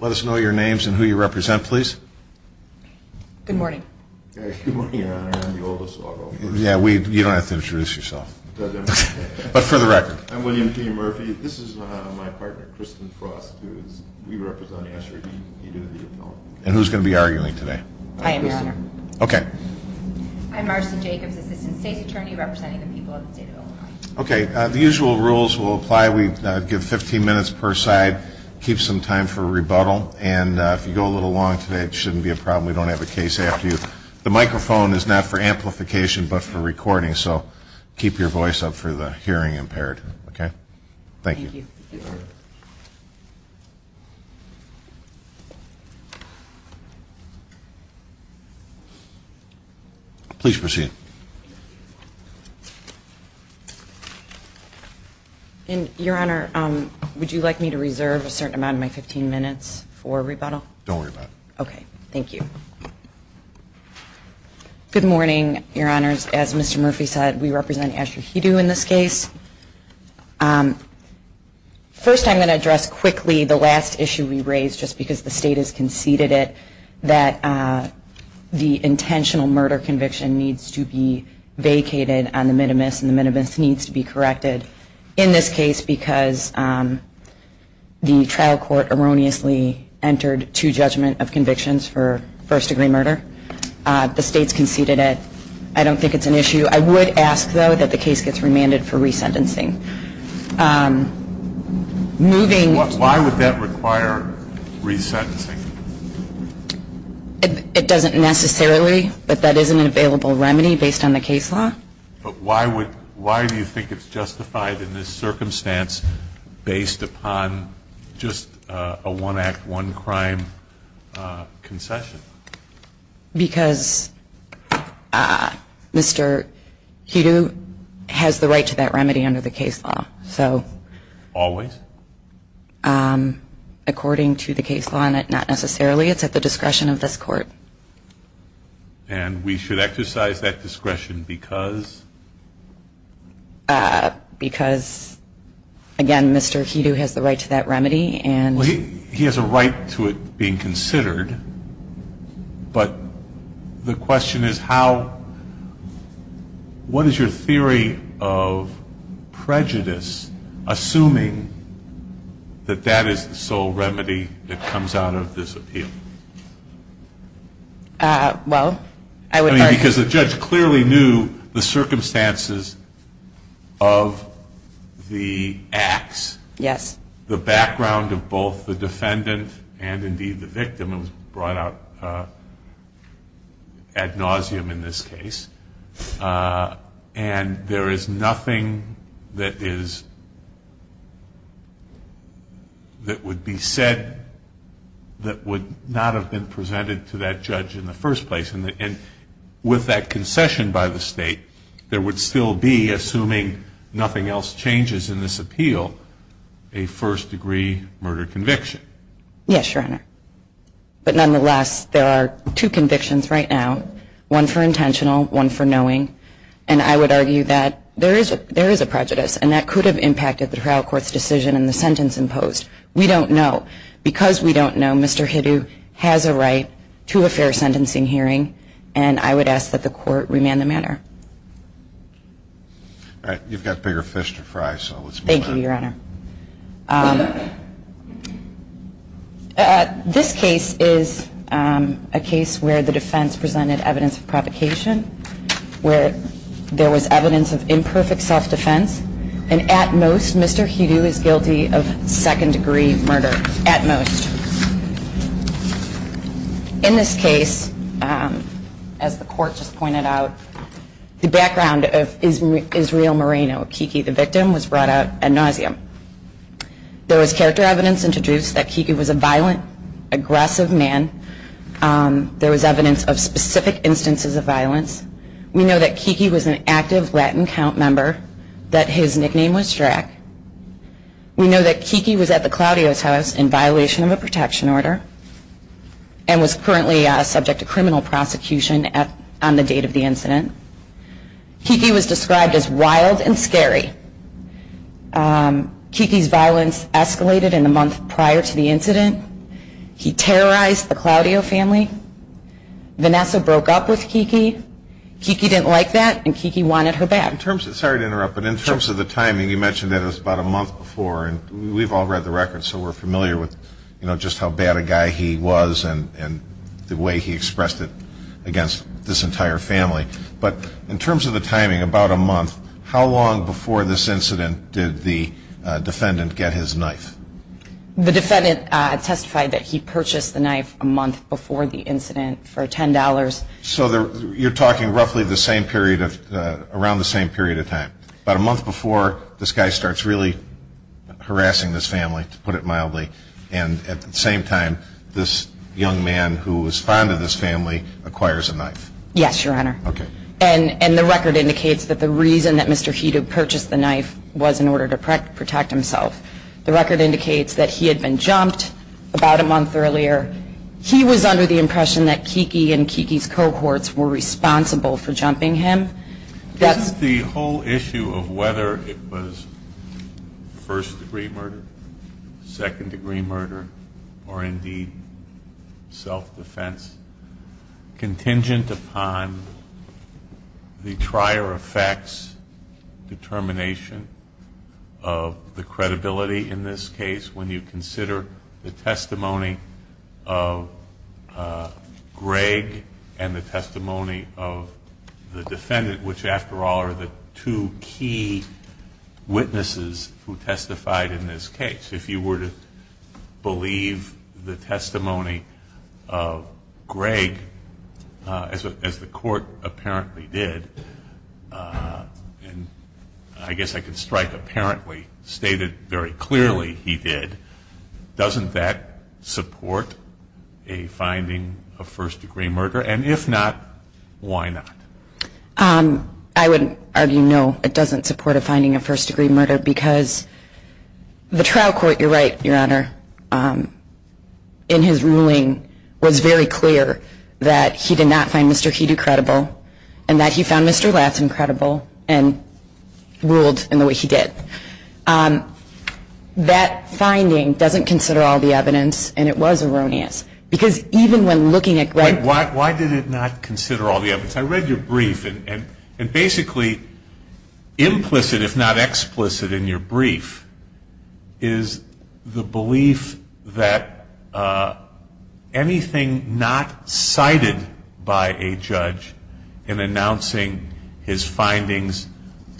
Let us know your names and who you represent, please. Good morning. You don't have to introduce yourself. I'm William P. Murphy. This is my partner, Kristen Frost. And who's going to be arguing today? I am, Your Honor. Okay. The usual rules will apply. We give 15 minutes per side. Keep some time for rebuttal. And if you go a little long today, it shouldn't be a problem. We don't have a case after you. The microphone is not for amplification but for recording, so keep your voice up for the hearing impaired. Thank you. Please proceed. Your Honor, would you like me to reserve a certain amount of my 15 minutes for rebuttal? Don't worry about it. Okay. Thank you. Good morning, Your Honors. As Mr. Murphy said, we represent Asher Hidou in this case. First, I'm going to address quickly the last issue we raised, just because the State has conceded it, that the intentional murder conviction needs to be vacated on the minimis, and the minimis needs to be corrected in this case because the trial court erroneously entered two judgments of convictions for first-degree murder. The State's conceded it. I don't think it's an issue. I would ask, though, that the case gets remanded for resentencing. Why would that require resentencing? It doesn't necessarily, but that is an available remedy based on the case law. But why do you think it's justified in this circumstance based upon just a one-act, one-crime concession? Because Mr. Hidou has the right to that remedy under the case law. Always? According to the case law, not necessarily. It's at the discretion of this Court. And we should exercise that discretion because? Because, again, Mr. Hidou has the right to that remedy. Well, he has a right to it being considered. But the question is how, what is your theory of prejudice, assuming that that is the sole remedy that comes out of this appeal? Well, I would argue. Because the judge clearly knew the circumstances of the acts, the background of both the defendant and, indeed, the victim. It was brought out ad nauseum in this case. And there is nothing that would be said that would not have been presented to that judge in the first place. And with that concession by the State, there would still be, assuming nothing else changes in this appeal, a first-degree murder conviction. Yes, Your Honor. But nonetheless, there are two convictions right now, one for intentional, one for knowing. And I would argue that there is a prejudice. And that could have impacted the trial court's decision and the sentence imposed. We don't know. Because we don't know, Mr. Hidou has a right to a fair sentencing hearing. And I would ask that the Court remand the matter. You've got bigger fish to fry, so let's move on. Thank you, Your Honor. This case is a case where the defense presented evidence of provocation, where there was evidence of imperfect self-defense. And at most, Mr. Hidou is guilty of second-degree murder, at most. In this case, as the Court just pointed out, the background of Israel Moreno, Kiki the victim, was brought out ad nauseum. There was character evidence introduced that Kiki was a violent, aggressive man. There was evidence of specific instances of violence. We know that Kiki was an active Latin Count member, that his nickname was Drack. We know that Kiki was at the Claudio's house in violation of a protection order and was currently subject to criminal prosecution on the date of the incident. Kiki was described as wild and scary. Kiki's violence escalated in the month prior to the incident. He terrorized the Claudio family. Vanessa broke up with Kiki, Kiki didn't like that, and Kiki wanted her back. Sorry to interrupt, but in terms of the timing, you mentioned that it was about a month before, and we've all read the records so we're familiar with just how bad a guy he was and the way he expressed it against this entire family. But in terms of the timing, about a month, how long before this incident did the defendant get his knife? The defendant testified that he purchased the knife a month before the incident for $10. So you're talking roughly around the same period of time. About a month before, this guy starts really harassing this family, to put it mildly, and at the same time, this young man who was fond of this family acquires a knife. Yes, Your Honor. And the record indicates that the reason that Mr. Hedo purchased the knife was in order to protect himself. The record indicates that he had been jumped about a month earlier. He was under the impression that Kiki and Kiki's cohorts were responsible for jumping him. Isn't the whole issue of whether it was first-degree murder, second-degree murder, or indeed self-defense, contingent upon the prior effect's determination of the credibility in this case when you consider the testimony of Greg and the testimony of the defendant, which, after all, are the two key witnesses who testified in this case? If you were to believe the testimony of Greg, as the court apparently did, and I guess I can strike apparently stated very clearly he did, doesn't that support a finding of first-degree murder? And if not, why not? I would argue no, it doesn't support a finding of first-degree murder because the trial court, you're right, Your Honor, in his ruling was very clear that he did not find Mr. Hedo credible and that he found Mr. Lassen credible and ruled in the way he did. That finding doesn't consider all the evidence, and it was erroneous. Because even when looking at Greg's... the belief that anything not cited by a judge in announcing his findings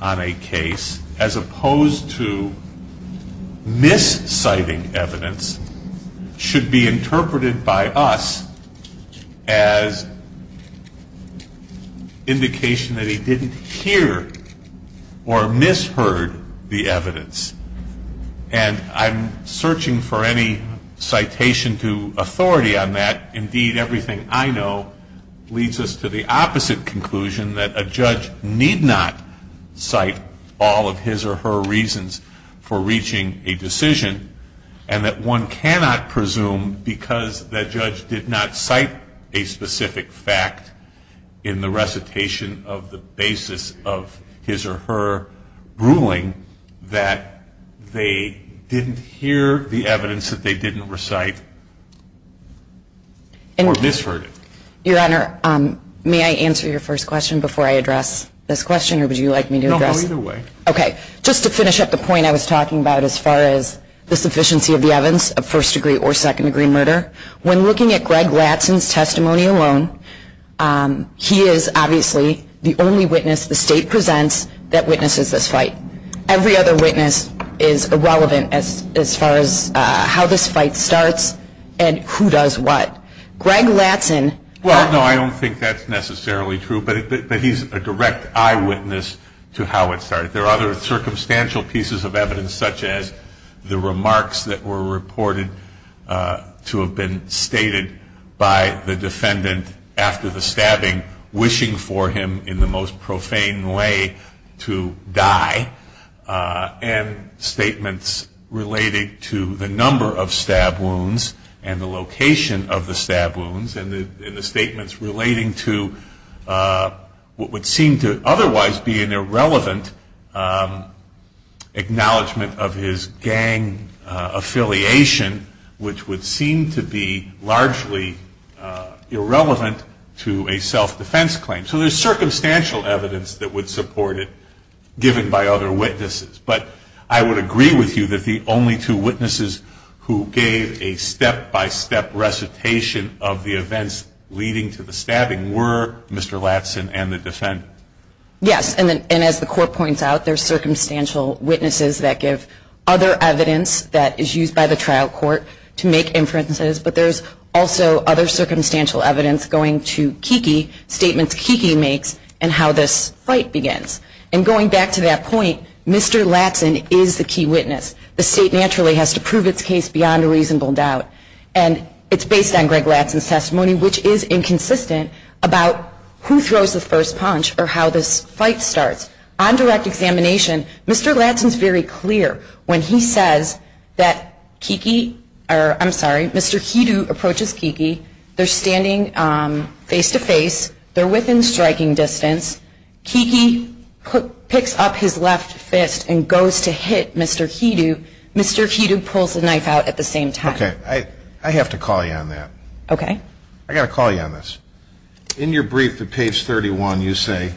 on a case, as opposed to mis-citing evidence, should be interpreted by us as indication that he didn't hear or misheard the evidence. And I'm searching for any citation to authority on that. Indeed, everything I know leads us to the opposite conclusion, that a judge need not cite all of his or her reasons for reaching a decision, and that one cannot presume because that judge did not cite a specific fact in the recitation of the basis of his or her ruling that they didn't hear the evidence that they didn't recite or misheard it. Your Honor, may I answer your first question before I address this question? No, either way. Okay, just to finish up the point I was talking about as far as the sufficiency of the evidence of first degree or second degree murder, when looking at Greg Lassen's testimony alone, he is obviously the only witness the State presents that witnesses this fight. Every other witness is irrelevant as far as how this fight starts and who does what. Greg Lassen... Well, no, I don't think that's necessarily true, but he's a direct eyewitness to how it started. There are other circumstantial pieces of evidence, such as the remarks that were reported to have been stated by the defendant after the stabbing, wishing for him in the most profane way to die, and statements relating to the number of stab wounds and the location of the stab wounds, and the statements relating to what would seem to otherwise be an irrelevant acknowledgement of his gang affiliation, which would seem to be largely irrelevant to a self-defense claim. So there's circumstantial evidence that would support it, given by other witnesses, but I would agree with you that the only two witnesses who gave a step-by-step recitation of the events leading to the stabbing were Mr. Lassen and the defendant. Yes, and as the Court points out, there's circumstantial witnesses that give other evidence that is used by the trial court to make inferences, but there's also other circumstantial evidence going to Kiki, statements Kiki makes, and how this fight begins. And going back to that point, Mr. Lassen is the key witness. The State naturally has to prove its case beyond a reasonable doubt, and it's based on Greg Lassen's testimony, which is inconsistent about who throws the first punch or how this fight starts. On direct examination, Mr. Lassen is very clear when he says that Kiki or I'm sorry, Mr. Hidoo approaches Kiki. They're standing face-to-face. They're within striking distance. Kiki picks up his left fist and goes to hit Mr. Hidoo. Mr. Hidoo pulls the knife out at the same time. Okay. I have to call you on that. I've got to call you on this. In your brief at page 31, you say,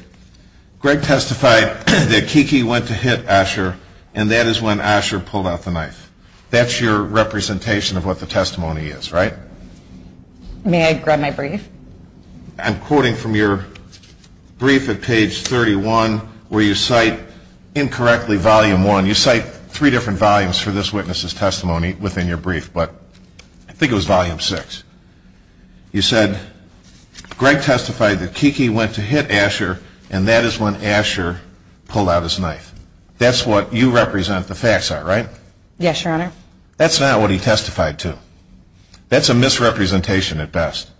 Greg testified that Kiki went to hit Asher, and that is when Asher pulled out the knife. That's your representation of what the testimony is, right? May I grab my brief? I'm quoting from your brief at page 31, where you cite incorrectly volume one. You cite three different volumes for this witness's testimony within your brief, but I think it was volume six. You said, Greg testified that Kiki went to hit Asher, and that is when Asher pulled out his knife. That's what you represent the facts are, right? Yes, Your Honor. That's not what he testified to. That's a misrepresentation at best.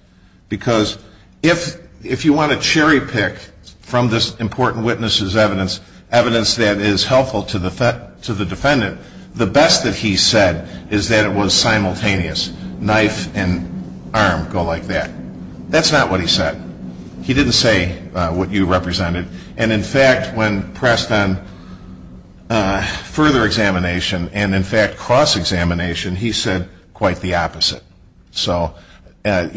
Because if you want to cherry pick from this important witness's evidence, evidence that is helpful to the defendant, the best that he said is that it was simultaneous. Knife and arm go like that. That's not what he said. He didn't say what you represented. And in fact, when pressed on further examination, and in fact cross-examination, he said quite the opposite. So on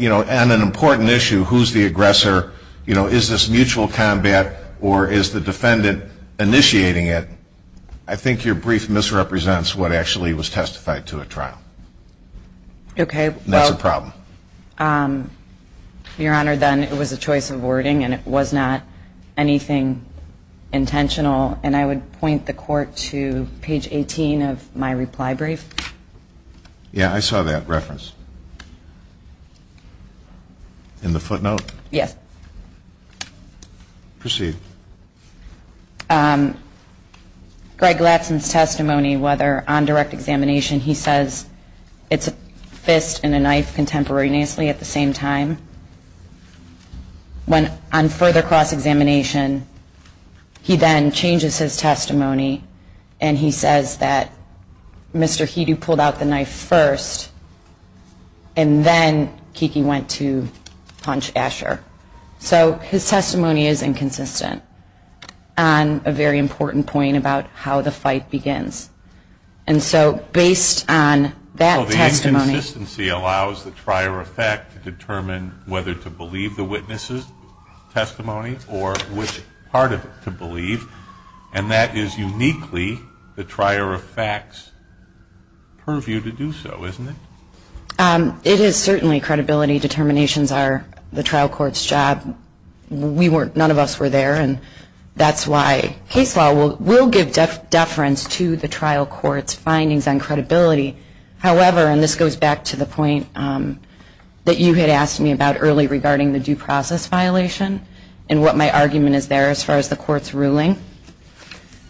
an important issue, who's the aggressor, is this mutual combat, or is the defendant initiating it, I think your brief misrepresents what actually was testified to at trial. Okay. Your Honor, then it was a choice of wording, and it was not anything intentional, and I would point the court to page 18 of my reply brief. Yeah, I saw that reference. In the footnote? Yes. Proceed. Greg Latson's testimony, whether on direct examination, he says it's a fist and a knife contemporaneously at the same time. When on further cross-examination, he then changes his testimony, and he says that Mr. Hedo pulled out the knife first, and then Kiki went to punch Asher. So his testimony is inconsistent on a very important point about how the fight begins. And so based on that testimony... So the inconsistency allows the trier of fact to determine whether to believe the witness' testimony or which part of it to believe, and that is uniquely the trier of fact's purview to do so, isn't it? It is certainly credibility. Determinations are the trial court's job. None of us were there, and that's why case law will give deference to the trial court's findings on credibility. However, and this goes back to the point that you had asked me about early regarding the due process violation and what my argument is there as far as the court's ruling,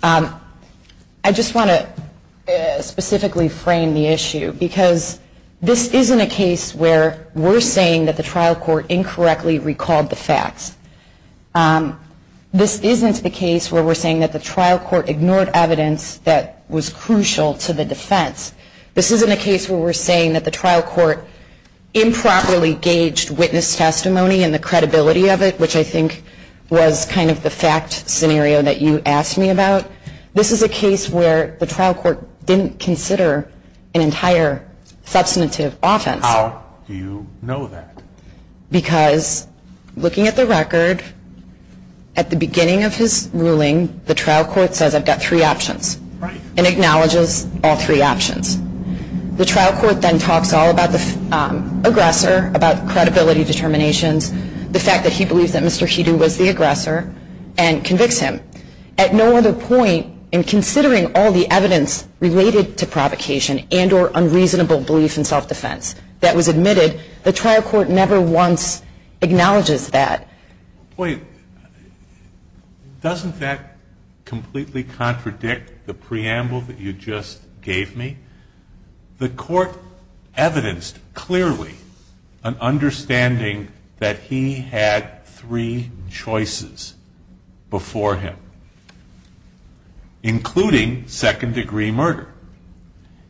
I just want to specifically frame the issue, because this isn't a case where we're saying that the trial court incorrectly recalled the facts. This isn't the case where we're saying that the trial court ignored evidence that was crucial to the defense. This isn't a case where we're saying that the trial court improperly gauged witness testimony and the credibility of it, which I think was kind of the fact scenario that you asked me about. This is a case where the trial court didn't consider an entire substantive offense. How do you know that? Because looking at the record, at the beginning of his ruling, the trial court says, I've got three options, and acknowledges all three options. The trial court then talks all about the aggressor, about credibility determinations, the fact that he believes that Mr. Hedo was the aggressor, and convicts him. At no other point in considering all the evidence related to provocation and or unreasonable belief in self-defense that was admitted, the trial court never once acknowledges that. Wait. Doesn't that completely contradict the preamble that you just gave me? The court evidenced clearly an understanding that he had three choices before him, including second-degree murder,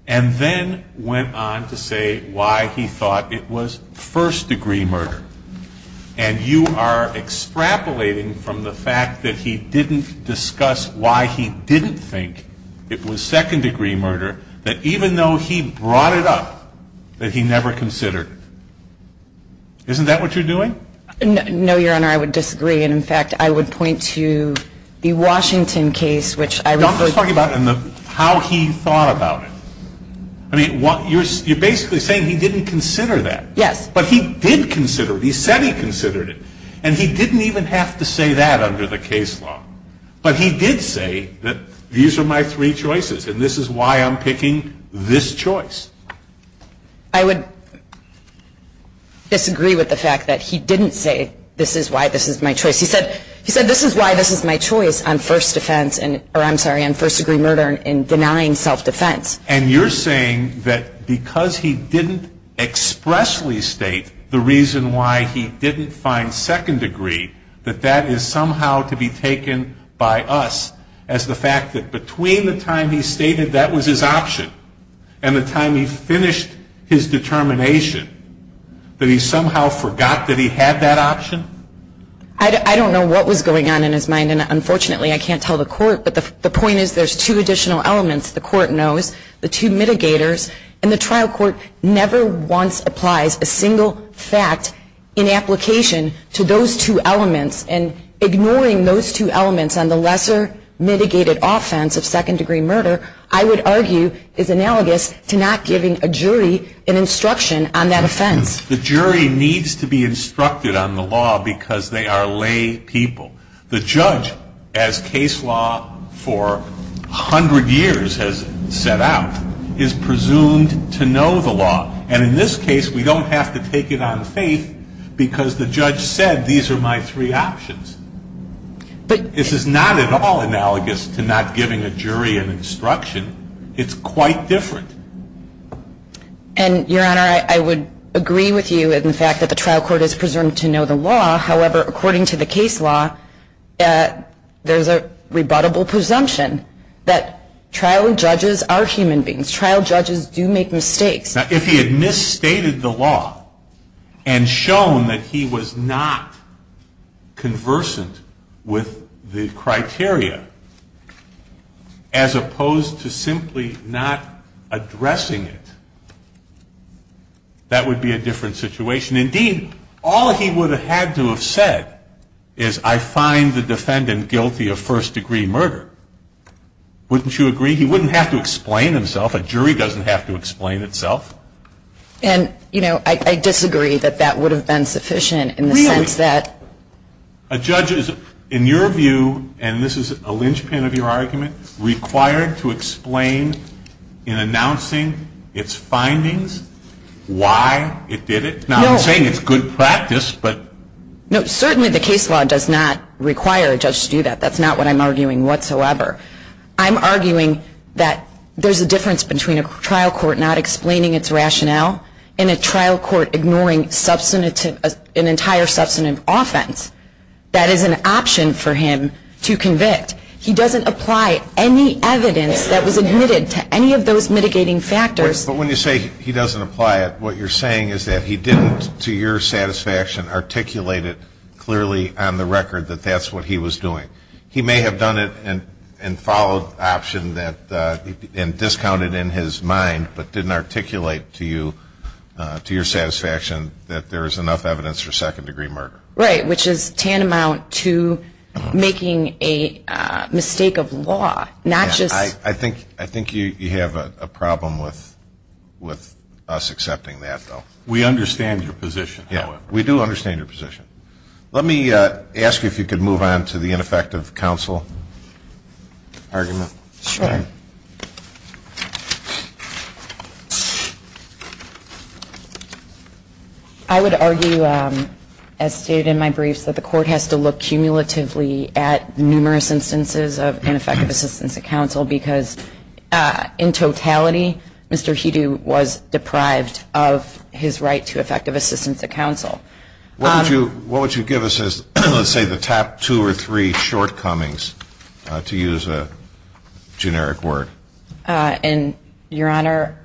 and then went on to say why he thought it was first-degree murder. And you are extrapolating from the fact that he didn't discuss why he didn't think it was second-degree murder, that even though he brought it up, that he never considered it. Isn't that what you're doing? No, Your Honor, I would disagree, and in fact, I would point to the Washington case, which I referred to. I'm just talking about how he thought about it. I mean, you're basically saying he didn't consider that. But he did consider it. He said he considered it. And he didn't even have to say that under the case law. But he did say that these are my three choices, and this is why I'm picking this choice. I would disagree with the fact that he didn't say this is why this is my choice. He said this is why this is my choice on first-degree murder and denying self-defense. And you're saying that because he didn't expressly state the reason why he didn't find second-degree, that that is somehow to be taken by us as the fact that between the time he stated that was his option and the time he finished his determination, that he somehow forgot that he had that option? I don't know what was going on in his mind, and unfortunately, I can't tell the court. But the point is there's two additional elements the court knows, the two mitigators, and the trial court never once applies a single fact in application to those two elements. And ignoring those two elements on the lesser mitigated offense of second-degree murder, I would argue is analogous to not giving a jury an instruction on that offense. The jury needs to be instructed on the law because they are lay people. The judge, as case law for 100 years has set out, is presumed to know the law. And in this case, we don't have to take it on faith because the judge said these are my three options. This is not at all analogous to not giving a jury an instruction. It's quite different. And, Your Honor, I would agree with you in the fact that the trial court is presumed to know the law. However, according to the case law, there's a rebuttable presumption that trial judges are human beings. Trial judges do make mistakes. Now, if he had misstated the law and shown that he was not conversant with the criteria, as opposed to simply not addressing it, that would be a different situation. Indeed, all he would have had to have said is I find the defendant guilty of first-degree murder. Wouldn't you agree? He wouldn't have to explain himself. A jury doesn't have to explain itself. And, you know, I disagree that that would have been sufficient in the sense that... Really, a judge is, in your view, and this is a linchpin of your argument, required to explain in announcing its findings why it did it. Now, I'm saying it's good practice, but... No, certainly the case law does not require a judge to do that. That's not what I'm arguing whatsoever. I'm arguing that there's a difference between a trial court not explaining its rationale and a trial court ignoring an entire substantive offense that is an option for him to convict. He doesn't apply any evidence that was admitted to any of those mitigating factors. But when you say he doesn't apply it, what you're saying is that he didn't, to your satisfaction, articulate it clearly on the record that that's what he was doing. He may have done it and followed option and discounted in his mind but didn't articulate to you, to your satisfaction, that there is enough evidence for second-degree murder. Right, which is tantamount to making a mistake of law, not just... I think you have a problem with us accepting that, though. We understand your position, however. Yeah, we do understand your position. Let me ask you if you could move on to the ineffective counsel argument. Sure. I would argue, as stated in my briefs, that the court has to look cumulatively at numerous instances of ineffective assistance to counsel because, in totality, Mr. Hedo was deprived of his right to effective assistance to counsel. What would you give us as, let's say, the top two or three shortcomings, to use a generic word? And, Your Honor,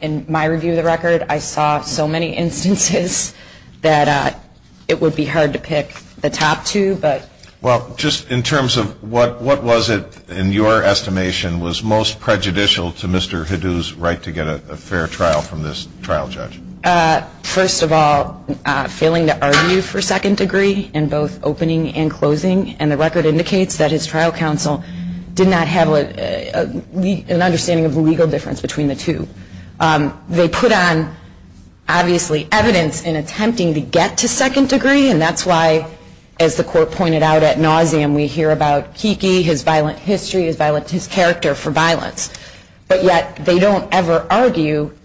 in my review of the record, I saw so many instances that it would be hard to pick the top two, but... Well, just in terms of what was it, in your estimation, was most prejudicial to Mr. Hedo's right to get a fair trial from this trial judge? First of all, failing to argue for second degree in both opening and closing, and the record indicates that his trial counsel did not have an understanding of the legal difference between the two. They put on, obviously, evidence in attempting to get to second degree, and that's why, as the court pointed out at nauseam, we hear about Kiki, his violent history, his character for violence. But yet, they don't ever argue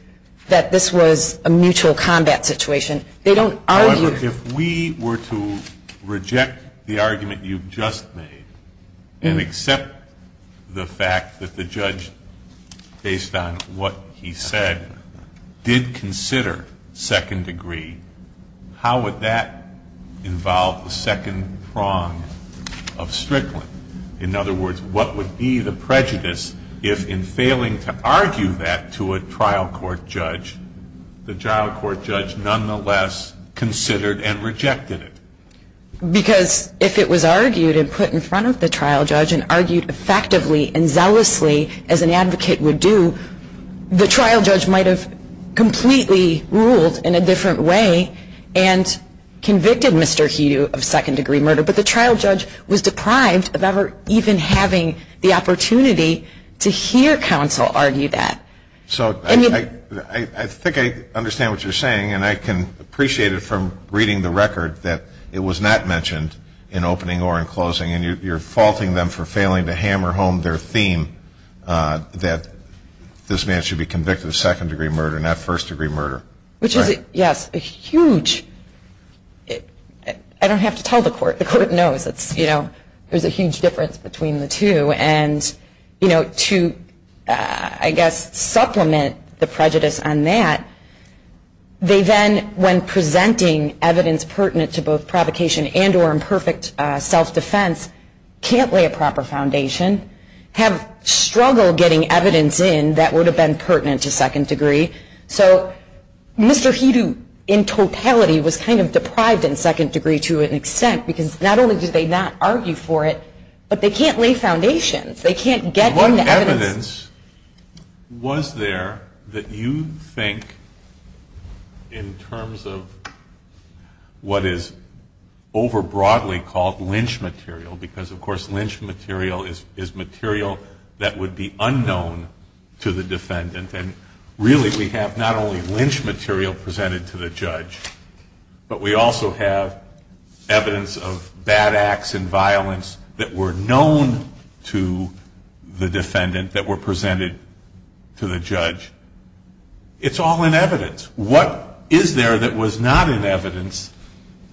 that this was a mutual combat situation. They don't argue... However, if we were to reject the argument you've just made and accept the fact that the judge, based on what he said, did consider second degree, how would that involve the second prong of Strickland? In other words, what would be the prejudice if, in failing to argue that to a trial court judge, the trial court judge nonetheless considered and rejected it? Because if it was argued and put in front of the trial judge and argued effectively and zealously, as an advocate would do, the trial judge might have completely ruled in a different way and convicted Mr. Hedo of second degree murder. But the trial judge was deprived of ever even having the opportunity to hear counsel argue that. So I think I understand what you're saying, and I can appreciate it from reading the record that it was not mentioned in opening or in closing, and you're faulting them for failing to hammer home their theme that this man should be convicted of second degree murder, not first degree murder. Which is, yes, a huge, I don't have to tell the court. The court knows. There's a huge difference between the two. And to, I guess, supplement the prejudice on that, they then, when presenting evidence pertinent to both provocation and or imperfect self-defense, can't lay a proper foundation, have struggled getting evidence in that would have been pertinent to second degree. So Mr. Hedo, in totality, was kind of deprived in second degree to an extent because not only did they not argue for it, but they can't lay foundations. They can't get them to evidence. What evidence was there that you think, in terms of what is over broadly called lynch material, because, of course, lynch material is material that would be unknown to the defendant and really we have not only lynch material presented to the judge, but we also have evidence of bad acts and violence that were known to the defendant that were presented to the judge. It's all in evidence. What is there that was not in evidence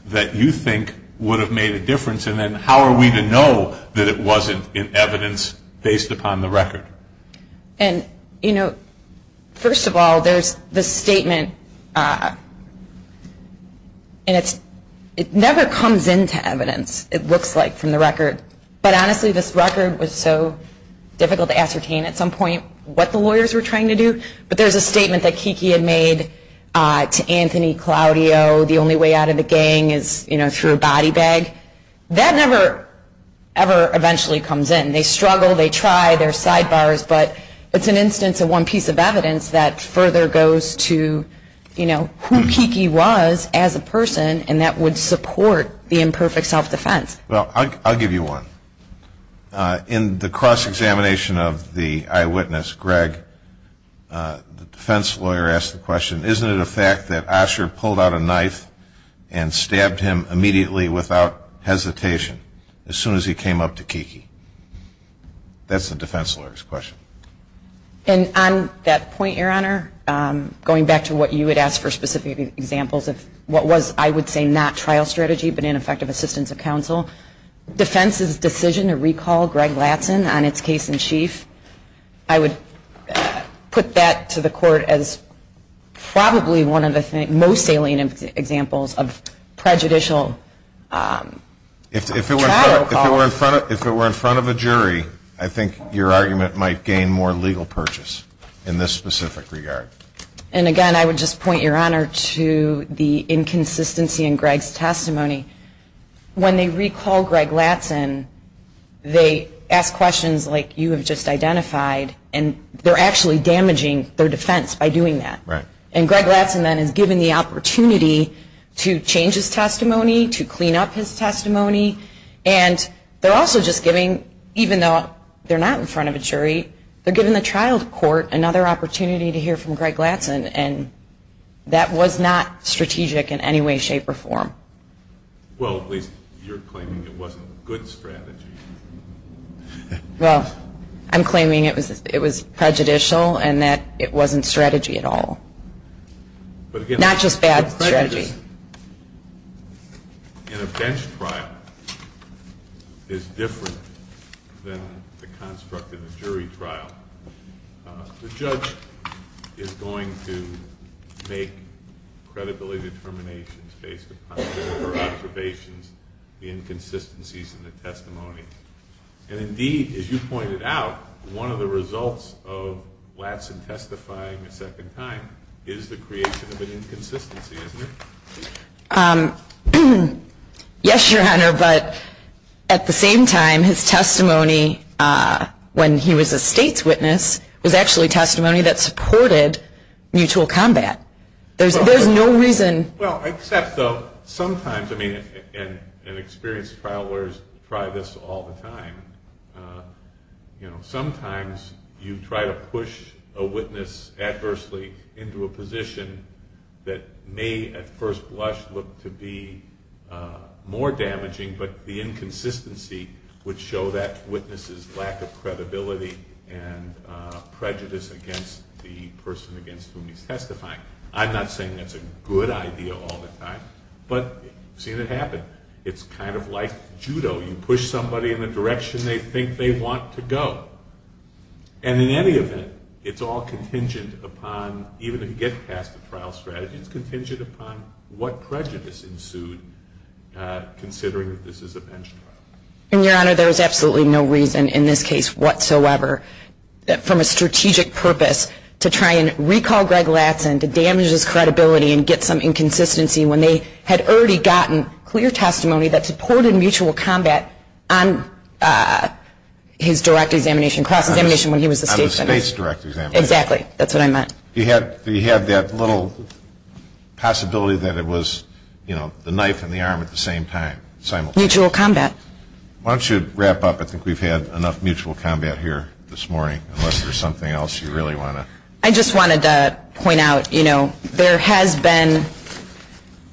that you think would have made a difference and then how are we to know that it wasn't in evidence based upon the record? And, you know, first of all, there's the statement and it never comes into evidence, it looks like, from the record. But honestly, this record was so difficult to ascertain at some point what the lawyers were trying to do. But there's a statement that Kiki had made to Anthony Claudio, the only way out of the gang is through a body bag. That never ever eventually comes in. They struggle, they try, there are sidebars, but it's an instance of one piece of evidence that further goes to, you know, who Kiki was as a person and that would support the imperfect self-defense. Well, I'll give you one. In the cross-examination of the eyewitness, Greg, the defense lawyer asked the question, isn't it a fact that Osher pulled out a knife and stabbed him immediately without hesitation as soon as he came up to Kiki? That's the defense lawyer's question. And on that point, Your Honor, going back to what you had asked for specific examples of what was, I would say, not trial strategy but ineffective assistance of counsel, defense's decision to recall Greg Latson on its case in chief, I would put that to the court as probably one of the most salient examples of prejudicial trial calls. If it were in front of a jury, I think your argument might gain more legal purchase in this specific regard. And again, I would just point, Your Honor, to the inconsistency in Greg's testimony. When they recall Greg Latson, they ask questions like you have just identified and they're actually damaging their defense by doing that. And Greg Latson then is given the opportunity to change his testimony, to clean up his testimony, and they're also just giving, even though they're not in front of a jury, they're giving the trial court another opportunity to hear from Greg Latson and that was not strategic in any way, shape, or form. Well, at least you're claiming it wasn't good strategy. Well, I'm claiming it was prejudicial and that it wasn't strategy at all. Not just bad strategy. In a bench trial, it's different than the construct of a jury trial. The judge is going to make credibility determinations based upon their observations, the inconsistencies in the testimony. And indeed, as you pointed out, one of the results of Latson testifying a second time is the creation of an inconsistency, isn't it? Yes, Your Honor, but at the same time, his testimony when he was a state's witness was actually testimony that supported mutual combat. There's no reason. Well, except though, sometimes, and experienced trial lawyers try this all the time, sometimes you try to push a witness adversely into a position that may at first blush look to be more damaging, but the inconsistency would show that witness's lack of credibility and prejudice against the person against whom he's testifying. I'm not saying that's a good idea all the time, but I've seen it happen. It's kind of like judo. You push somebody in the direction they think they want to go. And in any event, it's all contingent upon, even if you get past the trial strategy, it's contingent upon what prejudice ensued, considering that this is a pension trial. And, Your Honor, there is absolutely no reason in this case whatsoever, from a strategic purpose, to try and recall Greg Latson to damage his credibility and get some inconsistency when they had already gotten clear testimony that supported mutual combat on his direct examination, cross-examination when he was the state's witness. On the state's direct examination. Exactly. That's what I meant. You had that little possibility that it was, you know, the knife and the arm at the same time. Simultaneous. Mutual combat. Why don't you wrap up? I think we've had enough mutual combat here this morning. Unless there's something else you really want to. I just wanted to point out, you know, there has been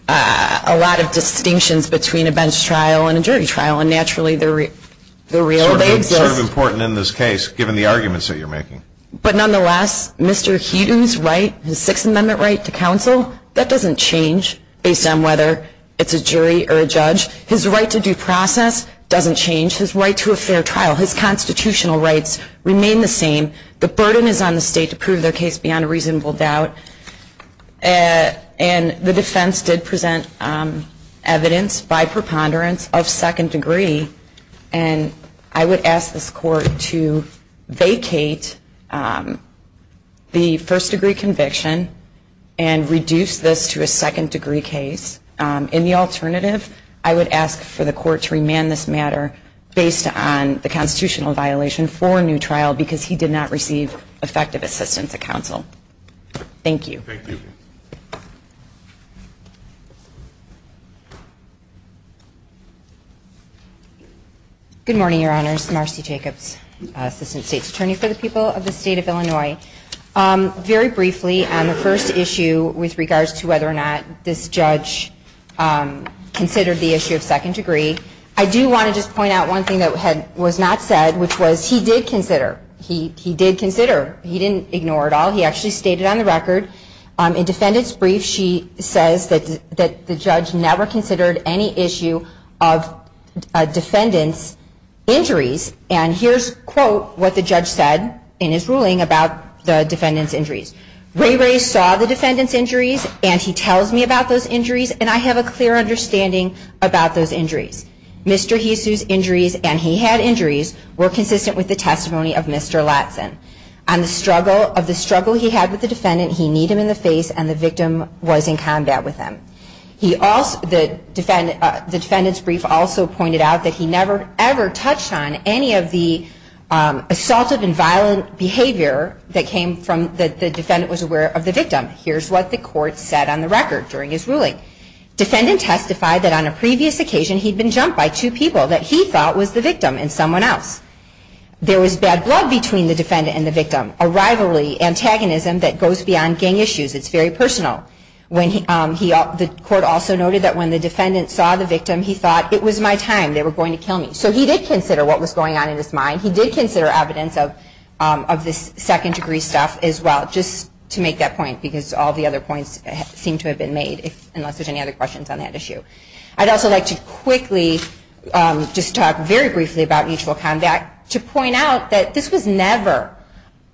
a lot of distinctions between a bench trial and a jury trial, and naturally they're real. Sort of important in this case, given the arguments that you're making. But nonetheless, Mr. Heaton's right, his Sixth Amendment right to counsel, that doesn't change based on whether it's a jury or a judge. His right to due process doesn't change. His right to a fair trial. His constitutional rights remain the same. The burden is on the state to prove their case beyond a reasonable doubt. And the defense did present evidence by preponderance of second degree. And I would ask this court to vacate the first degree conviction and reduce this to a second degree case. In the alternative, I would ask for the court to remand this matter based on the constitutional violation for a new trial because he did not receive effective assistance at counsel. Thank you. Thank you. Good morning, Your Honors. Marcy Jacobs, Assistant State's Attorney for the people of the State of Illinois. Very briefly, on the first issue with regards to whether or not this judge considered the issue of second degree, I do want to just point out one thing that was not said, which was he did consider. He did consider. He didn't ignore it all. He actually stated on the record. In defendant's brief, she says that the judge never considered any issue of defendant's injuries. And here's, quote, what the judge said in his ruling about the defendant's injuries. Ray Ray saw the defendant's injuries and he tells me about those injuries and I have a clear understanding about those injuries. Mr. Hisu's injuries and he had injuries were consistent with the testimony of Mr. Latson. On the struggle, of the struggle he had with the defendant, he kneed him in the face and the victim was in combat with him. He also, the defendant's brief also pointed out that he never ever touched on any of the assaultive and violent behavior that came from, that the defendant was aware of the victim. Here's what the court said on the record during his ruling. Defendant testified that on a previous occasion he'd been jumped by two people that he thought was the victim and someone else. There was bad blood between the defendant and the victim. A rivalry, antagonism that goes beyond gang issues. It's very personal. The court also noted that when the defendant saw the victim, he thought, it was my time, they were going to kill me. So he did consider what was going on in his mind. He did consider evidence of this second degree stuff as well, just to make that point, because all the other points seem to have been made, unless there's any other questions on that issue. I'd also like to quickly just talk very briefly about mutual combat, to point out that this was never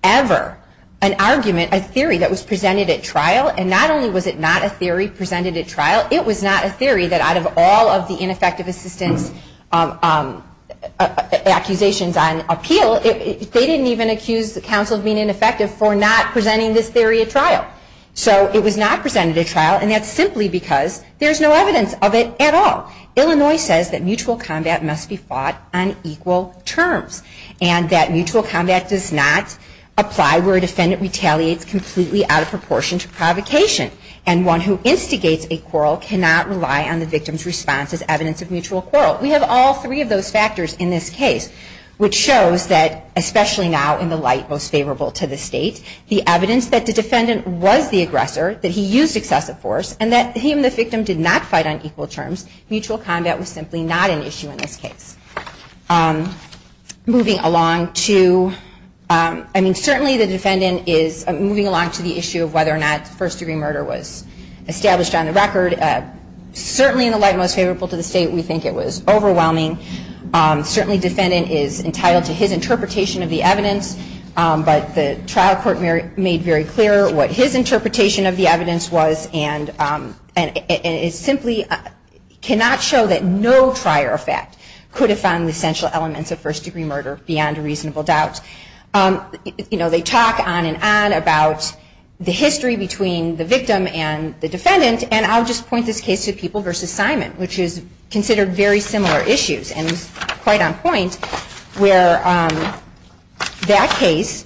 ever an argument, a theory that was presented at trial. And not only was it not a theory presented at trial, it was not a theory that out of all of the ineffective assistance accusations on appeal, they didn't even accuse the counsel of being ineffective for not presenting this theory at trial. So it was not presented at trial, and that's simply because there's no evidence of it at all. Illinois says that mutual combat must be fought on equal terms. And that mutual combat does not apply where a defendant retaliates completely out of proportion to provocation. And one who instigates a quarrel cannot rely on the victim's response as evidence of mutual quarrel. We have all three of those factors in this case, which shows that, especially now in the light most favorable to the state, the evidence that the defendant was the aggressor, that he used excessive force, and that he and the victim did not fight on equal terms, mutual combat was simply not an issue in this case. Moving along to, I mean certainly the defendant is, moving along to the issue of whether or not first degree murder was established on the record, certainly in the light most favorable to the state, we think it was overwhelming. Certainly defendant is entitled to his interpretation of the evidence, but the trial court made very clear what his interpretation of the evidence was, and it simply cannot show that no prior effect could have found the essential elements of first degree murder beyond a reasonable doubt. They talk on and on about the history between the victim and the defendant, and I'll just point this case to People v. Simon, which is considered very similar issues, and is quite on point, where that case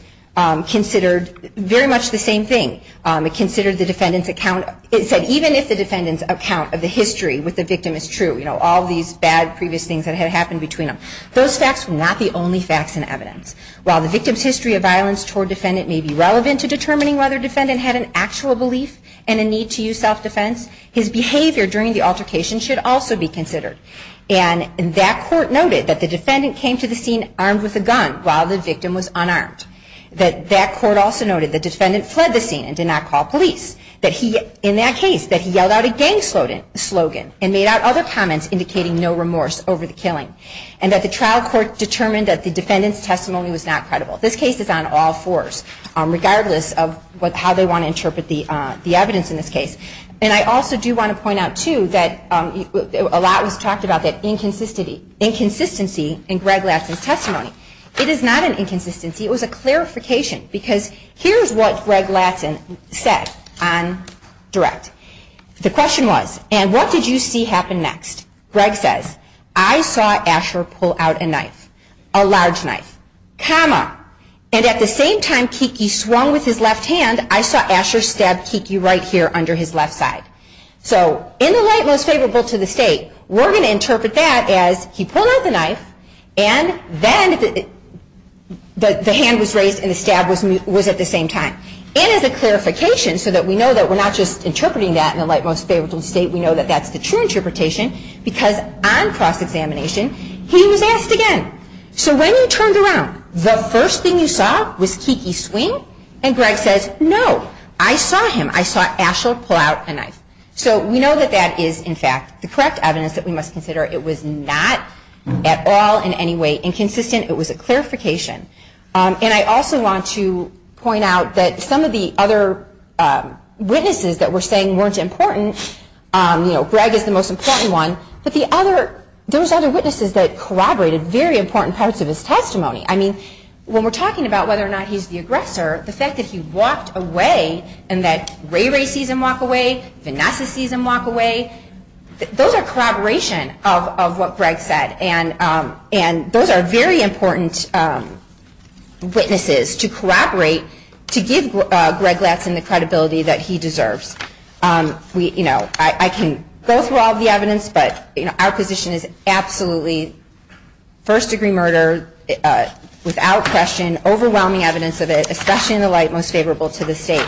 considered very much the same thing. It considered the defendant's account, it said even if the defendant's account of the history with the victim is true, you know all these bad previous things that had happened between them, those facts were not the only facts and evidence. While the victim's history of violence toward defendant may be relevant to determining whether defendant had an actual belief and a need to use self-defense, his behavior during the altercation should also be considered. And that court noted that the defendant came to the scene armed with a gun while the victim was unarmed. That court also noted the defendant fled the scene and did not call police. That he, in that case, that he yelled out a gang slogan and made out other comments indicating no remorse over the killing. And that the trial court determined that the defendant's testimony was not credible. This case is on all fours, regardless of how they want to interpret the evidence in this case. And I also do want to point out too that a lot was talked about that inconsistency in Greg Latson's testimony. It is not an inconsistency, it was a clarification. Because here's what Greg Latson said on direct. The question was, and what did you see happen next? Greg says, I saw Asher pull out a knife, a large knife, comma, and at the same time Kiki swung with his left hand, I saw Asher stab Kiki right here under his left side. So in the light most favorable to the state, we're going to interpret that as he pulled out the knife and then the hand was raised and the stab was at the same time. And as a clarification, so that we know that we're not just interpreting that in the light most favorable to the state, we know that that's the true interpretation, because on cross-examination, he was asked again. So when you turned around, the first thing you saw was Kiki swing? And Greg says, no, I saw him. I saw Asher pull out a knife. So we know that that is, in fact, the correct evidence that we must consider. It was not at all in any way inconsistent. It was a clarification. And I also want to point out that some of the other witnesses that were saying weren't important, you know, Greg is the most important one, but there was other witnesses that corroborated very important parts of his testimony. I mean, when we're talking about whether or not he's the aggressor, the fact that he walked away and that Ray Ray sees him walk away, Vanessa sees him walk away, those are corroboration of what Greg said. And those are very important witnesses to corroborate, to give Greg Latson the credibility that he deserves. You know, I can go through all the evidence, but, you know, our position is absolutely first degree murder without question, overwhelming evidence of it, especially in the light most favorable to the state.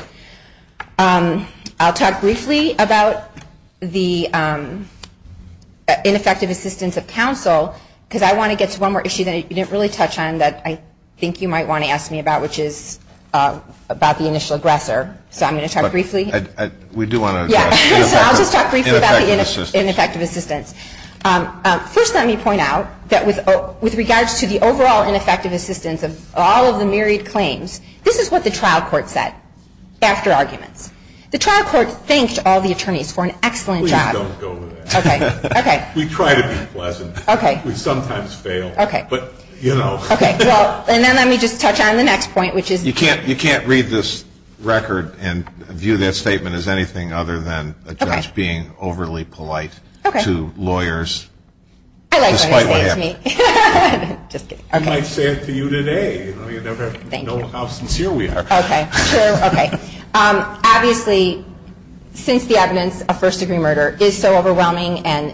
I'll talk briefly about the ineffective assistance of counsel because I want to get to one more issue that you didn't really touch on that I think you might want to ask me about, which is about the initial aggressor. So I'm going to talk briefly. So I'll just talk briefly about the ineffective assistance. First let me point out that with regards to the overall ineffective assistance of all of the myriad claims, this is what the trial court said after arguments. The trial court thanked all the attorneys for an excellent job. Please don't go there. Okay, okay. We try to be pleasant. Okay. We sometimes fail. Okay. But, you know. Okay, well, and then let me just touch on the next point, which is. You can't read this record and view that statement as anything other than a judge being overly polite to lawyers. Okay. I like what he said to me. Despite what happened. Just kidding. Okay. He might say it to you today. Thank you. You never know how sincere we are. Okay. Sure. Okay. Obviously since the evidence of first degree murder is so overwhelming and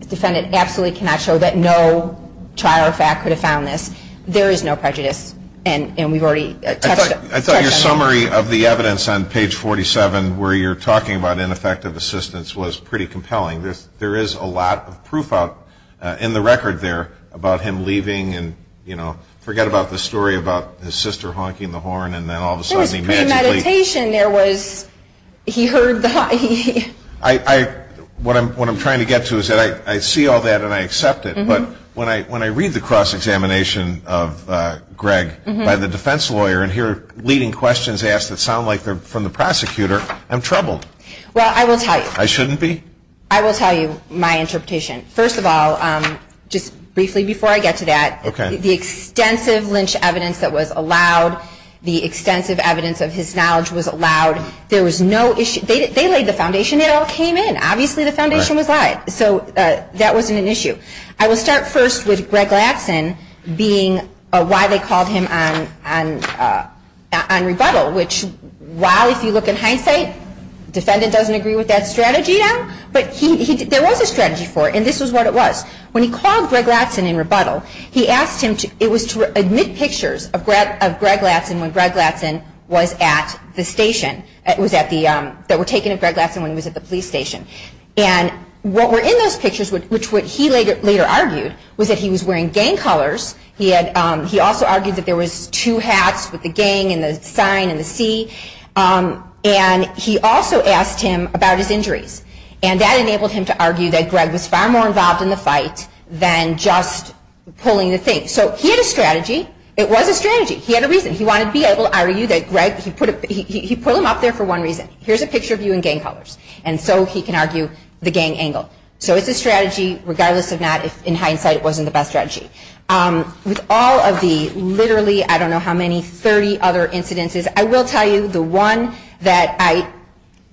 the defendant absolutely cannot show that no trial or fact could have found this, there is no prejudice. And we've already touched on that. I thought your summary of the evidence on page 47 where you're talking about ineffective assistance was pretty compelling. There is a lot of proof out in the record there about him leaving and, you know, forget about the story about his sister honking the horn and then all of a sudden he magically. There was premeditation. There was. He heard the honking. What I'm trying to get to is that I see all that and I accept it. But when I read the cross-examination of Greg by the defense lawyer and hear leading questions asked that sound like they're from the prosecutor, I'm troubled. Well, I will tell you. I shouldn't be? I will tell you my interpretation. First of all, just briefly before I get to that, the extensive lynch evidence that was allowed, the extensive evidence of his knowledge was allowed. There was no issue. They laid the foundation. It all came in. Obviously the foundation was lied. So that wasn't an issue. I will start first with Greg Latson being why they called him on rebuttal, which while if you look in hindsight, the defendant doesn't agree with that strategy now, but there was a strategy for it, and this is what it was. When he called Greg Latson in rebuttal, he asked him to admit pictures of Greg Latson when Greg Latson was at the station, that were taken of Greg Latson when he was at the police station. And what were in those pictures, which he later argued, was that he was wearing gang colors. He also argued that there was two hats with the gang and the sign and the C. And he also asked him about his injuries. And that enabled him to argue that Greg was far more involved in the fight than just pulling the thing. So he had a strategy. It was a strategy. He had a reason. He wanted to be able to argue that Greg, he put him up there for one reason. Here's a picture of you in gang colors. And so he can argue the gang angle. So it's a strategy, regardless of not, in hindsight, it wasn't the best strategy. With all of the literally, I don't know how many, 30 other incidences, I will tell you the one that I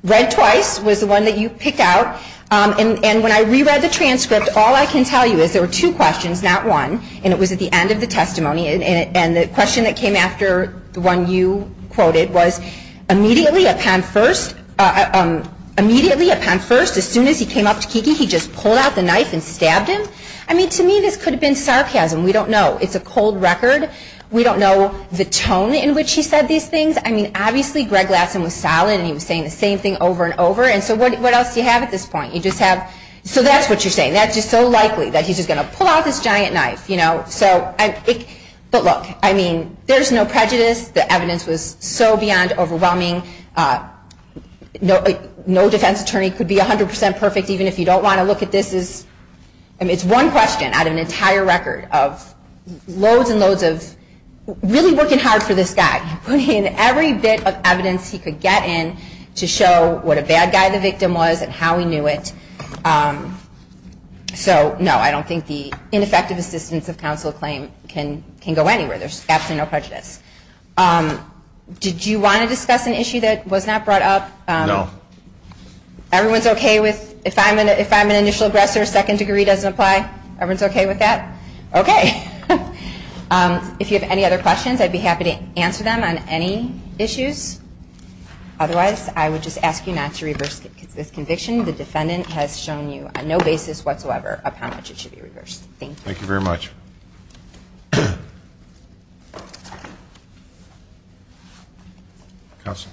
read twice was the one that you picked out. And when I reread the transcript, all I can tell you is there were two questions, not one, and it was at the end of the testimony. And the question that came after the one you quoted was, immediately upon first, as soon as he came up to Kiki, he just pulled out the knife and stabbed him. I mean, to me, this could have been sarcasm. We don't know. It's a cold record. We don't know the tone in which he said these things. I mean, obviously, Greg Lassen was solid, and he was saying the same thing over and over. And so what else do you have at this point? You just have, so that's what you're saying. That's just so likely that he's just going to pull out this giant knife. But look, I mean, there's no prejudice. The evidence was so beyond overwhelming. No defense attorney could be 100 percent perfect, even if you don't want to look at this. It's one question out of an entire record of loads and loads of really working hard for this guy, putting in every bit of evidence he could get in to show what a bad guy the victim was and how he knew it. So, no, I don't think the ineffective assistance of counsel claim can go anywhere. There's absolutely no prejudice. Did you want to discuss an issue that was not brought up? No. Everyone's okay with if I'm an initial aggressor, second degree doesn't apply? Everyone's okay with that? Okay. If you have any other questions, I'd be happy to answer them on any issues. Otherwise, I would just ask you not to reverse this conviction. The defendant has shown you on no basis whatsoever of how much it should be reversed. Thank you. Thank you very much. Counsel.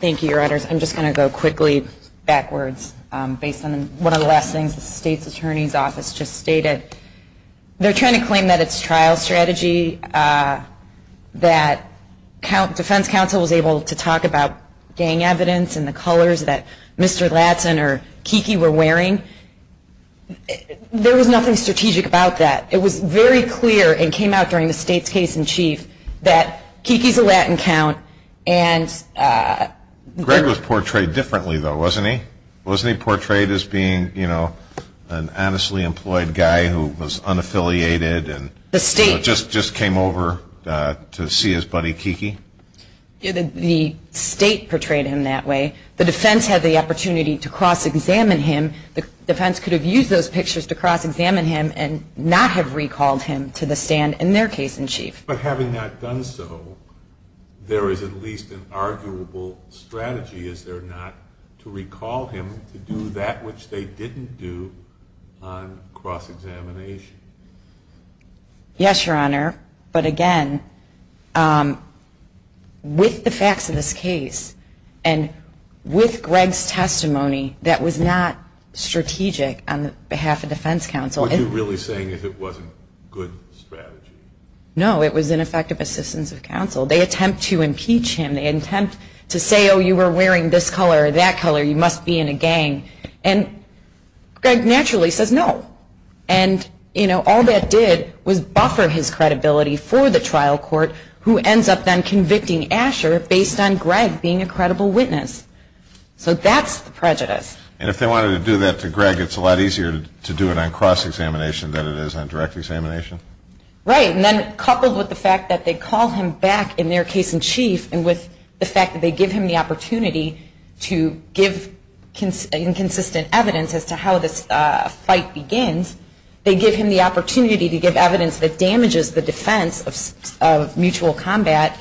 Thank you, Your Honors. I'm just going to go quickly backwards based on one of the last things the state's attorney's office just stated. They're trying to claim that it's trial strategy, that defense counsel was able to talk about gang evidence and the colors that Mr. Latson or Kiki were wearing. There was nothing strategic about that. It was very clear and came out during the state's case in chief that Kiki's a Latin count. Greg was portrayed differently, though, wasn't he? Was he portrayed as being, you know, an honestly employed guy who was unaffiliated and just came over to see his buddy Kiki? The state portrayed him that way. The defense had the opportunity to cross-examine him. The defense could have used those pictures to cross-examine him and not have recalled him to the stand in their case in chief. But having not done so, there is at least an arguable strategy, is there not, to recall him to do that which they didn't do on cross-examination? Yes, Your Honor, but again, with the facts of this case and with Greg's testimony that was not strategic on behalf of defense counsel. What you're really saying is it wasn't good strategy? No, it was ineffective assistance of counsel. They attempt to impeach him. They attempt to say, oh, you were wearing this color or that color. You must be in a gang. And Greg naturally says no. And, you know, all that did was buffer his credibility for the trial court who ends up then convicting Asher based on Greg being a credible witness. So that's the prejudice. And if they wanted to do that to Greg, it's a lot easier to do it on cross-examination than it is on direct examination? Right. And then coupled with the fact that they call him back in their case in chief and with the fact that they give him the opportunity to give inconsistent evidence as to how this fight begins, they give him the opportunity to give evidence that damages the defense of mutual combat.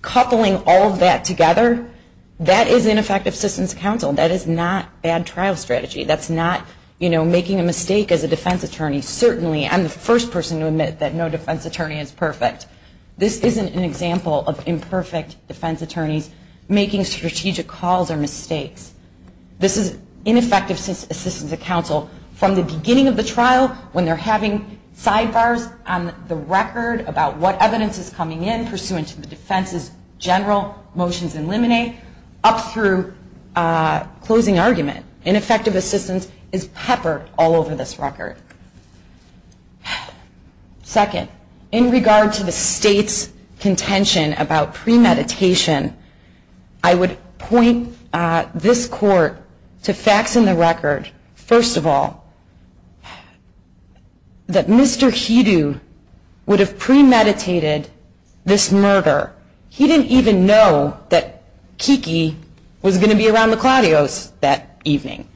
Coupling all of that together, that is ineffective assistance of counsel. That is not bad trial strategy. That's not, you know, making a mistake as a defense attorney. Certainly I'm the first person to admit that no defense attorney is perfect. This isn't an example of imperfect defense attorneys making strategic calls or mistakes. This is ineffective assistance of counsel from the beginning of the trial when they're having sidebars on the record about what evidence is coming in pursuant to the defense's general motions in limine up through closing argument. Ineffective assistance is peppered all over this record. Second, in regard to the state's contention about premeditation, I would point this court to facts in the record. First of all, that Mr. Hidoo would have premeditated this murder. He didn't even know that Kiki was going to be around the Claudios that evening.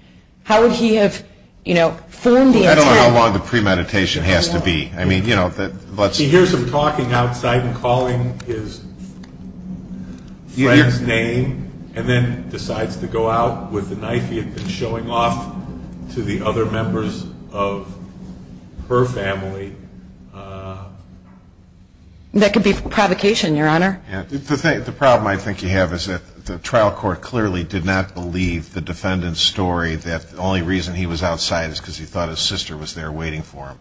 How would he have, you know, formed the intent? I don't know how long the premeditation has to be. I mean, you know, let's see. He hears him talking outside and calling his friend's name and then decides to go out with the knife he had been showing off to the other members of her family. That could be provocation, Your Honor. The problem I think you have is that the trial court clearly did not believe the defendant's story that the only reason he was outside is because he thought his sister was there waiting for him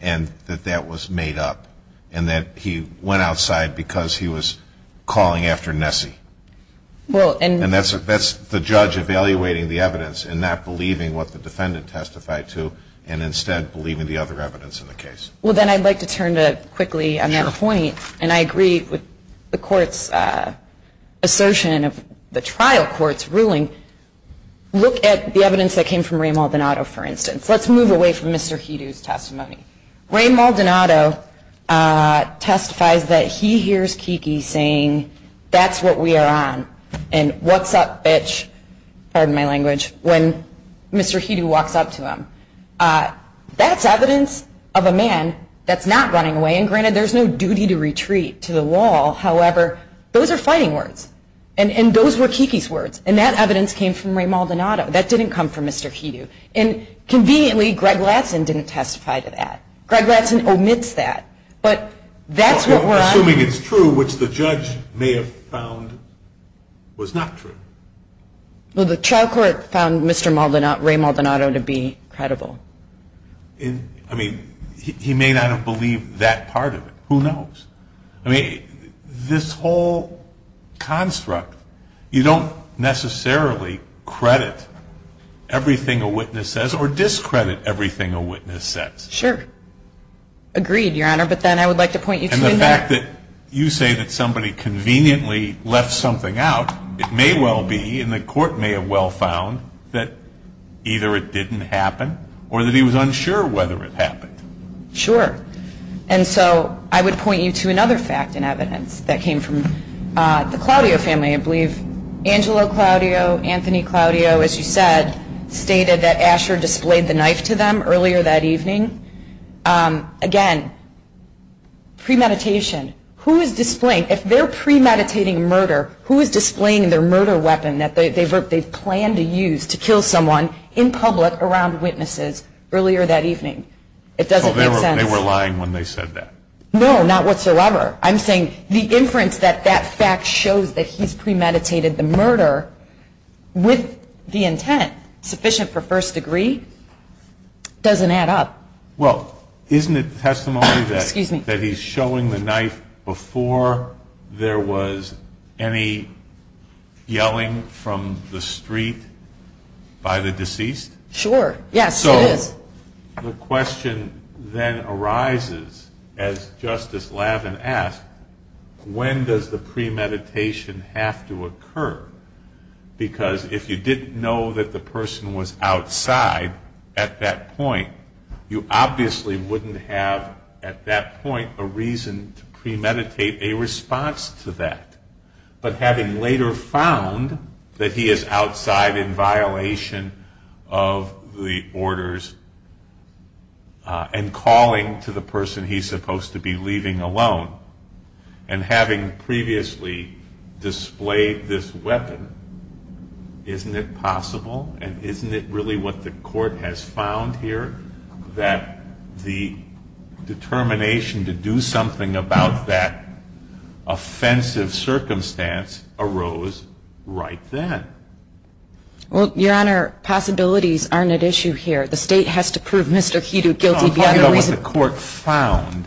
and that that was made up and that he went outside because he was calling after Nessie. And that's the judge evaluating the evidence and not believing what the defendant testified to and instead believing the other evidence in the case. Well, then I'd like to turn to quickly another point, and I agree with the court's assertion of the trial court's ruling. Look at the evidence that came from Ray Maldonado, for instance. Let's move away from Mr. Hidoo's testimony. Ray Maldonado testifies that he hears Kiki saying, that's what we are on and what's up, bitch, pardon my language, when Mr. Hidoo walks up to him. That's evidence of a man that's not running away, and granted there's no duty to retreat to the wall, however, those are fighting words. And those were Kiki's words, and that evidence came from Ray Maldonado. That didn't come from Mr. Hidoo. And conveniently, Greg Latson didn't testify to that. Greg Latson omits that. But that's what we're on. Assuming it's true, which the judge may have found was not true. Well, the trial court found Mr. Maldonado, Ray Maldonado, to be credible. I mean, he may not have believed that part of it. Who knows? I mean, this whole construct, you don't necessarily credit everything a witness says or discredit everything a witness says. Sure. Agreed, Your Honor. But then I would like to point you to the fact that you say that somebody conveniently left something out. It may well be, and the court may have well found, that either it didn't happen or that he was unsure whether it happened. Sure. And so I would point you to another fact in evidence that came from the Claudio family, I believe. Angelo Claudio, Anthony Claudio, as you said, stated that Asher displayed the knife to them earlier that evening. Again, premeditation. If they're premeditating murder, who is displaying their murder weapon that they've planned to use to kill someone in public around witnesses earlier that evening? It doesn't make sense. So they were lying when they said that? No, not whatsoever. I'm saying the inference that that fact shows that he's premeditated the murder with the intent sufficient for first degree doesn't add up. Well, isn't it testimony that he's showing the knife before there was any yelling from the street by the deceased? Sure. Yes, it is. So the question then arises, as Justice Lavin asked, when does the premeditation have to occur? Because if you didn't know that the person was outside at that point, you obviously wouldn't have at that point a reason to premeditate a response to that. But having later found that he is outside in violation of the orders and calling to the person he's supposed to be leaving alone, and having previously displayed this weapon, isn't it possible, and isn't it really what the court has found here, that the determination to do something about that offensive circumstance arose right then? Well, Your Honor, possibilities aren't at issue here. The State has to prove Mr. Hedo guilty beyond reason. No, I'm talking about what the court found.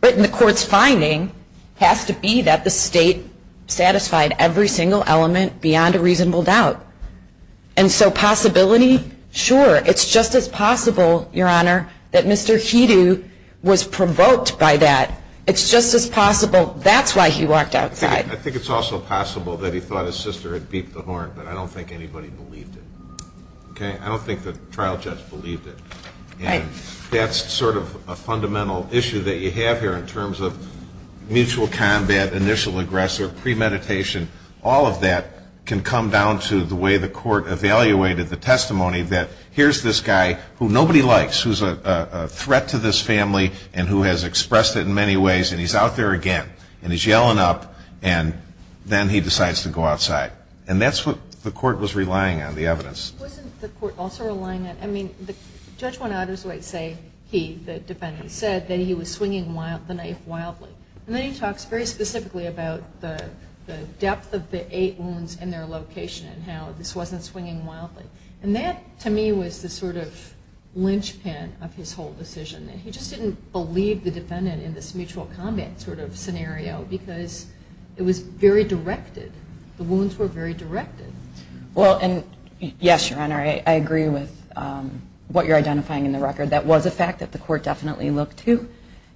What the court's finding has to be that the State satisfied every single element beyond a reasonable doubt. And so possibility, sure. It's just as possible, Your Honor, that Mr. Hedo was provoked by that. It's just as possible that's why he walked outside. I think it's also possible that he thought his sister had beeped the horn, but I don't think anybody believed it. Okay? I don't think the trial judge believed it. And that's sort of a fundamental issue that you have here in terms of mutual combat, initial aggressor, premeditation. All of that can come down to the way the court evaluated the testimony that here's this guy who nobody likes, who's a threat to this family and who has expressed it in many ways, and he's out there again. And he's yelling up, and then he decides to go outside. And that's what the court was relying on, the evidence. Wasn't the court also relying on, I mean, Judge Juan Adersweit say he, the defendant, said that he was swinging the knife wildly. And then he talks very specifically about the depth of the eight wounds and their location and how this wasn't swinging wildly. And that, to me, was the sort of linchpin of his whole decision. He just didn't believe the defendant in this mutual combat sort of scenario because it was very directed. The wounds were very directed. Well, and yes, Your Honor, I agree with what you're identifying in the record. That was a fact that the court definitely looked to.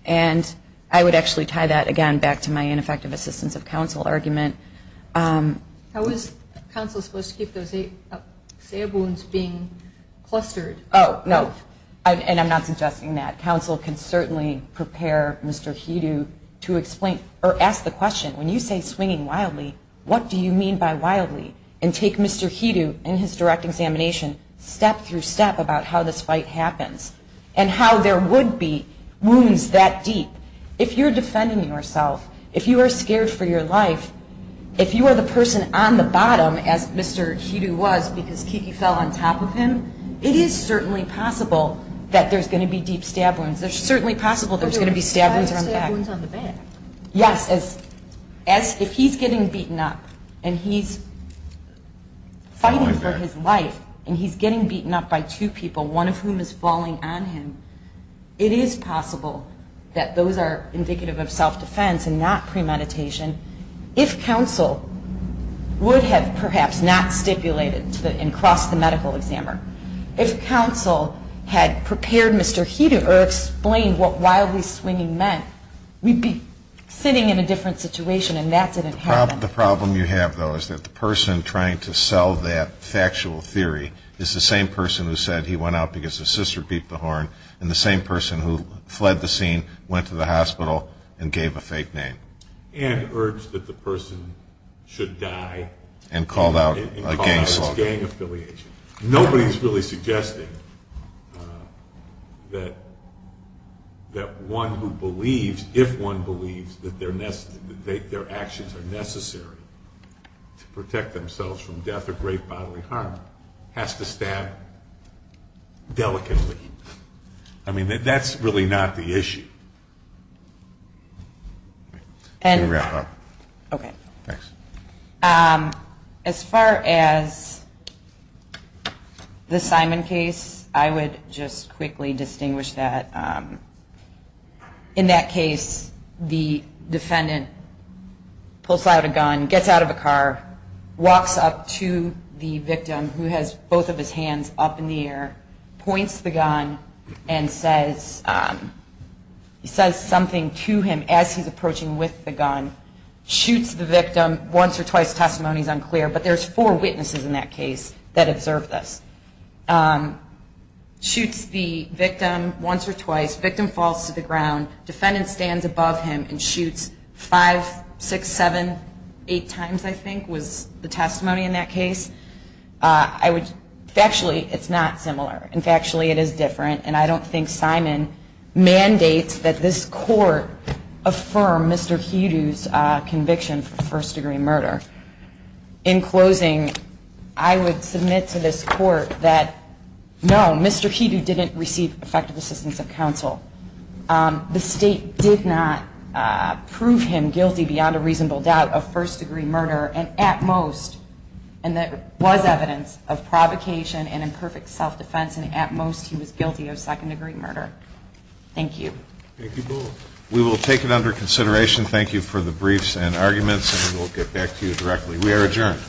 And I would actually tie that, again, back to my ineffective assistance of counsel argument. How is counsel supposed to keep those eight wounds being clustered? Oh, no, and I'm not suggesting that. Counsel can certainly prepare Mr. Hedo to explain or ask the question, when you say swinging wildly, what do you mean by wildly? And take Mr. Hedo in his direct examination step through step about how this fight happens and how there would be wounds that deep. If you're defending yourself, if you are scared for your life, if you are the person on the bottom, as Mr. Hedo was because Kiki fell on top of him, it is certainly possible that there's going to be deep stab wounds. There's certainly possible there's going to be stab wounds on the back. Yes, if he's getting beaten up and he's fighting for his life and he's getting beaten up by two people, one of whom is falling on him, it is possible that those are indicative of self-defense and not premeditation. If counsel would have perhaps not stipulated and crossed the medical examiner, if counsel had prepared Mr. Hedo or explained what wildly swinging meant, we'd be sitting in a different situation and that's it had happened. The problem you have, though, is that the person trying to sell that factual theory is the same person who said he went out because his sister beeped the horn and the same person who fled the scene, went to the hospital, and gave a fake name. And urged that the person should die. And called out a gangster. That's gang affiliation. Nobody's really suggesting that one who believes, if one believes, that their actions are necessary to protect themselves from death or great bodily harm has to stab delicately. As far as the Simon case, I would just quickly distinguish that. In that case, the defendant pulls out a gun, gets out of a car, walks up to the victim who has both of his hands up in the air, points the gun and says something to him as he's approaching with the gun, shoots the victim once or twice, testimony is unclear, but there's four witnesses in that case that observed this. Shoots the victim once or twice, victim falls to the ground, defendant stands above him and shoots five, six, seven, eight times, I think, was the testimony in that case. Factually, it's not similar. In factually, it is different. And I don't think Simon mandates that this court affirm Mr. Hedo's conviction for first-degree murder. In closing, I would submit to this court that, no, Mr. Hedo didn't receive effective assistance of counsel. The state did not prove him guilty beyond a reasonable doubt of first-degree murder. And at most, and there was evidence of provocation and imperfect self-defense, and at most he was guilty of second-degree murder. Thank you. Thank you both. We will take it under consideration. Thank you for the briefs and arguments, and we will get back to you directly. We are adjourned.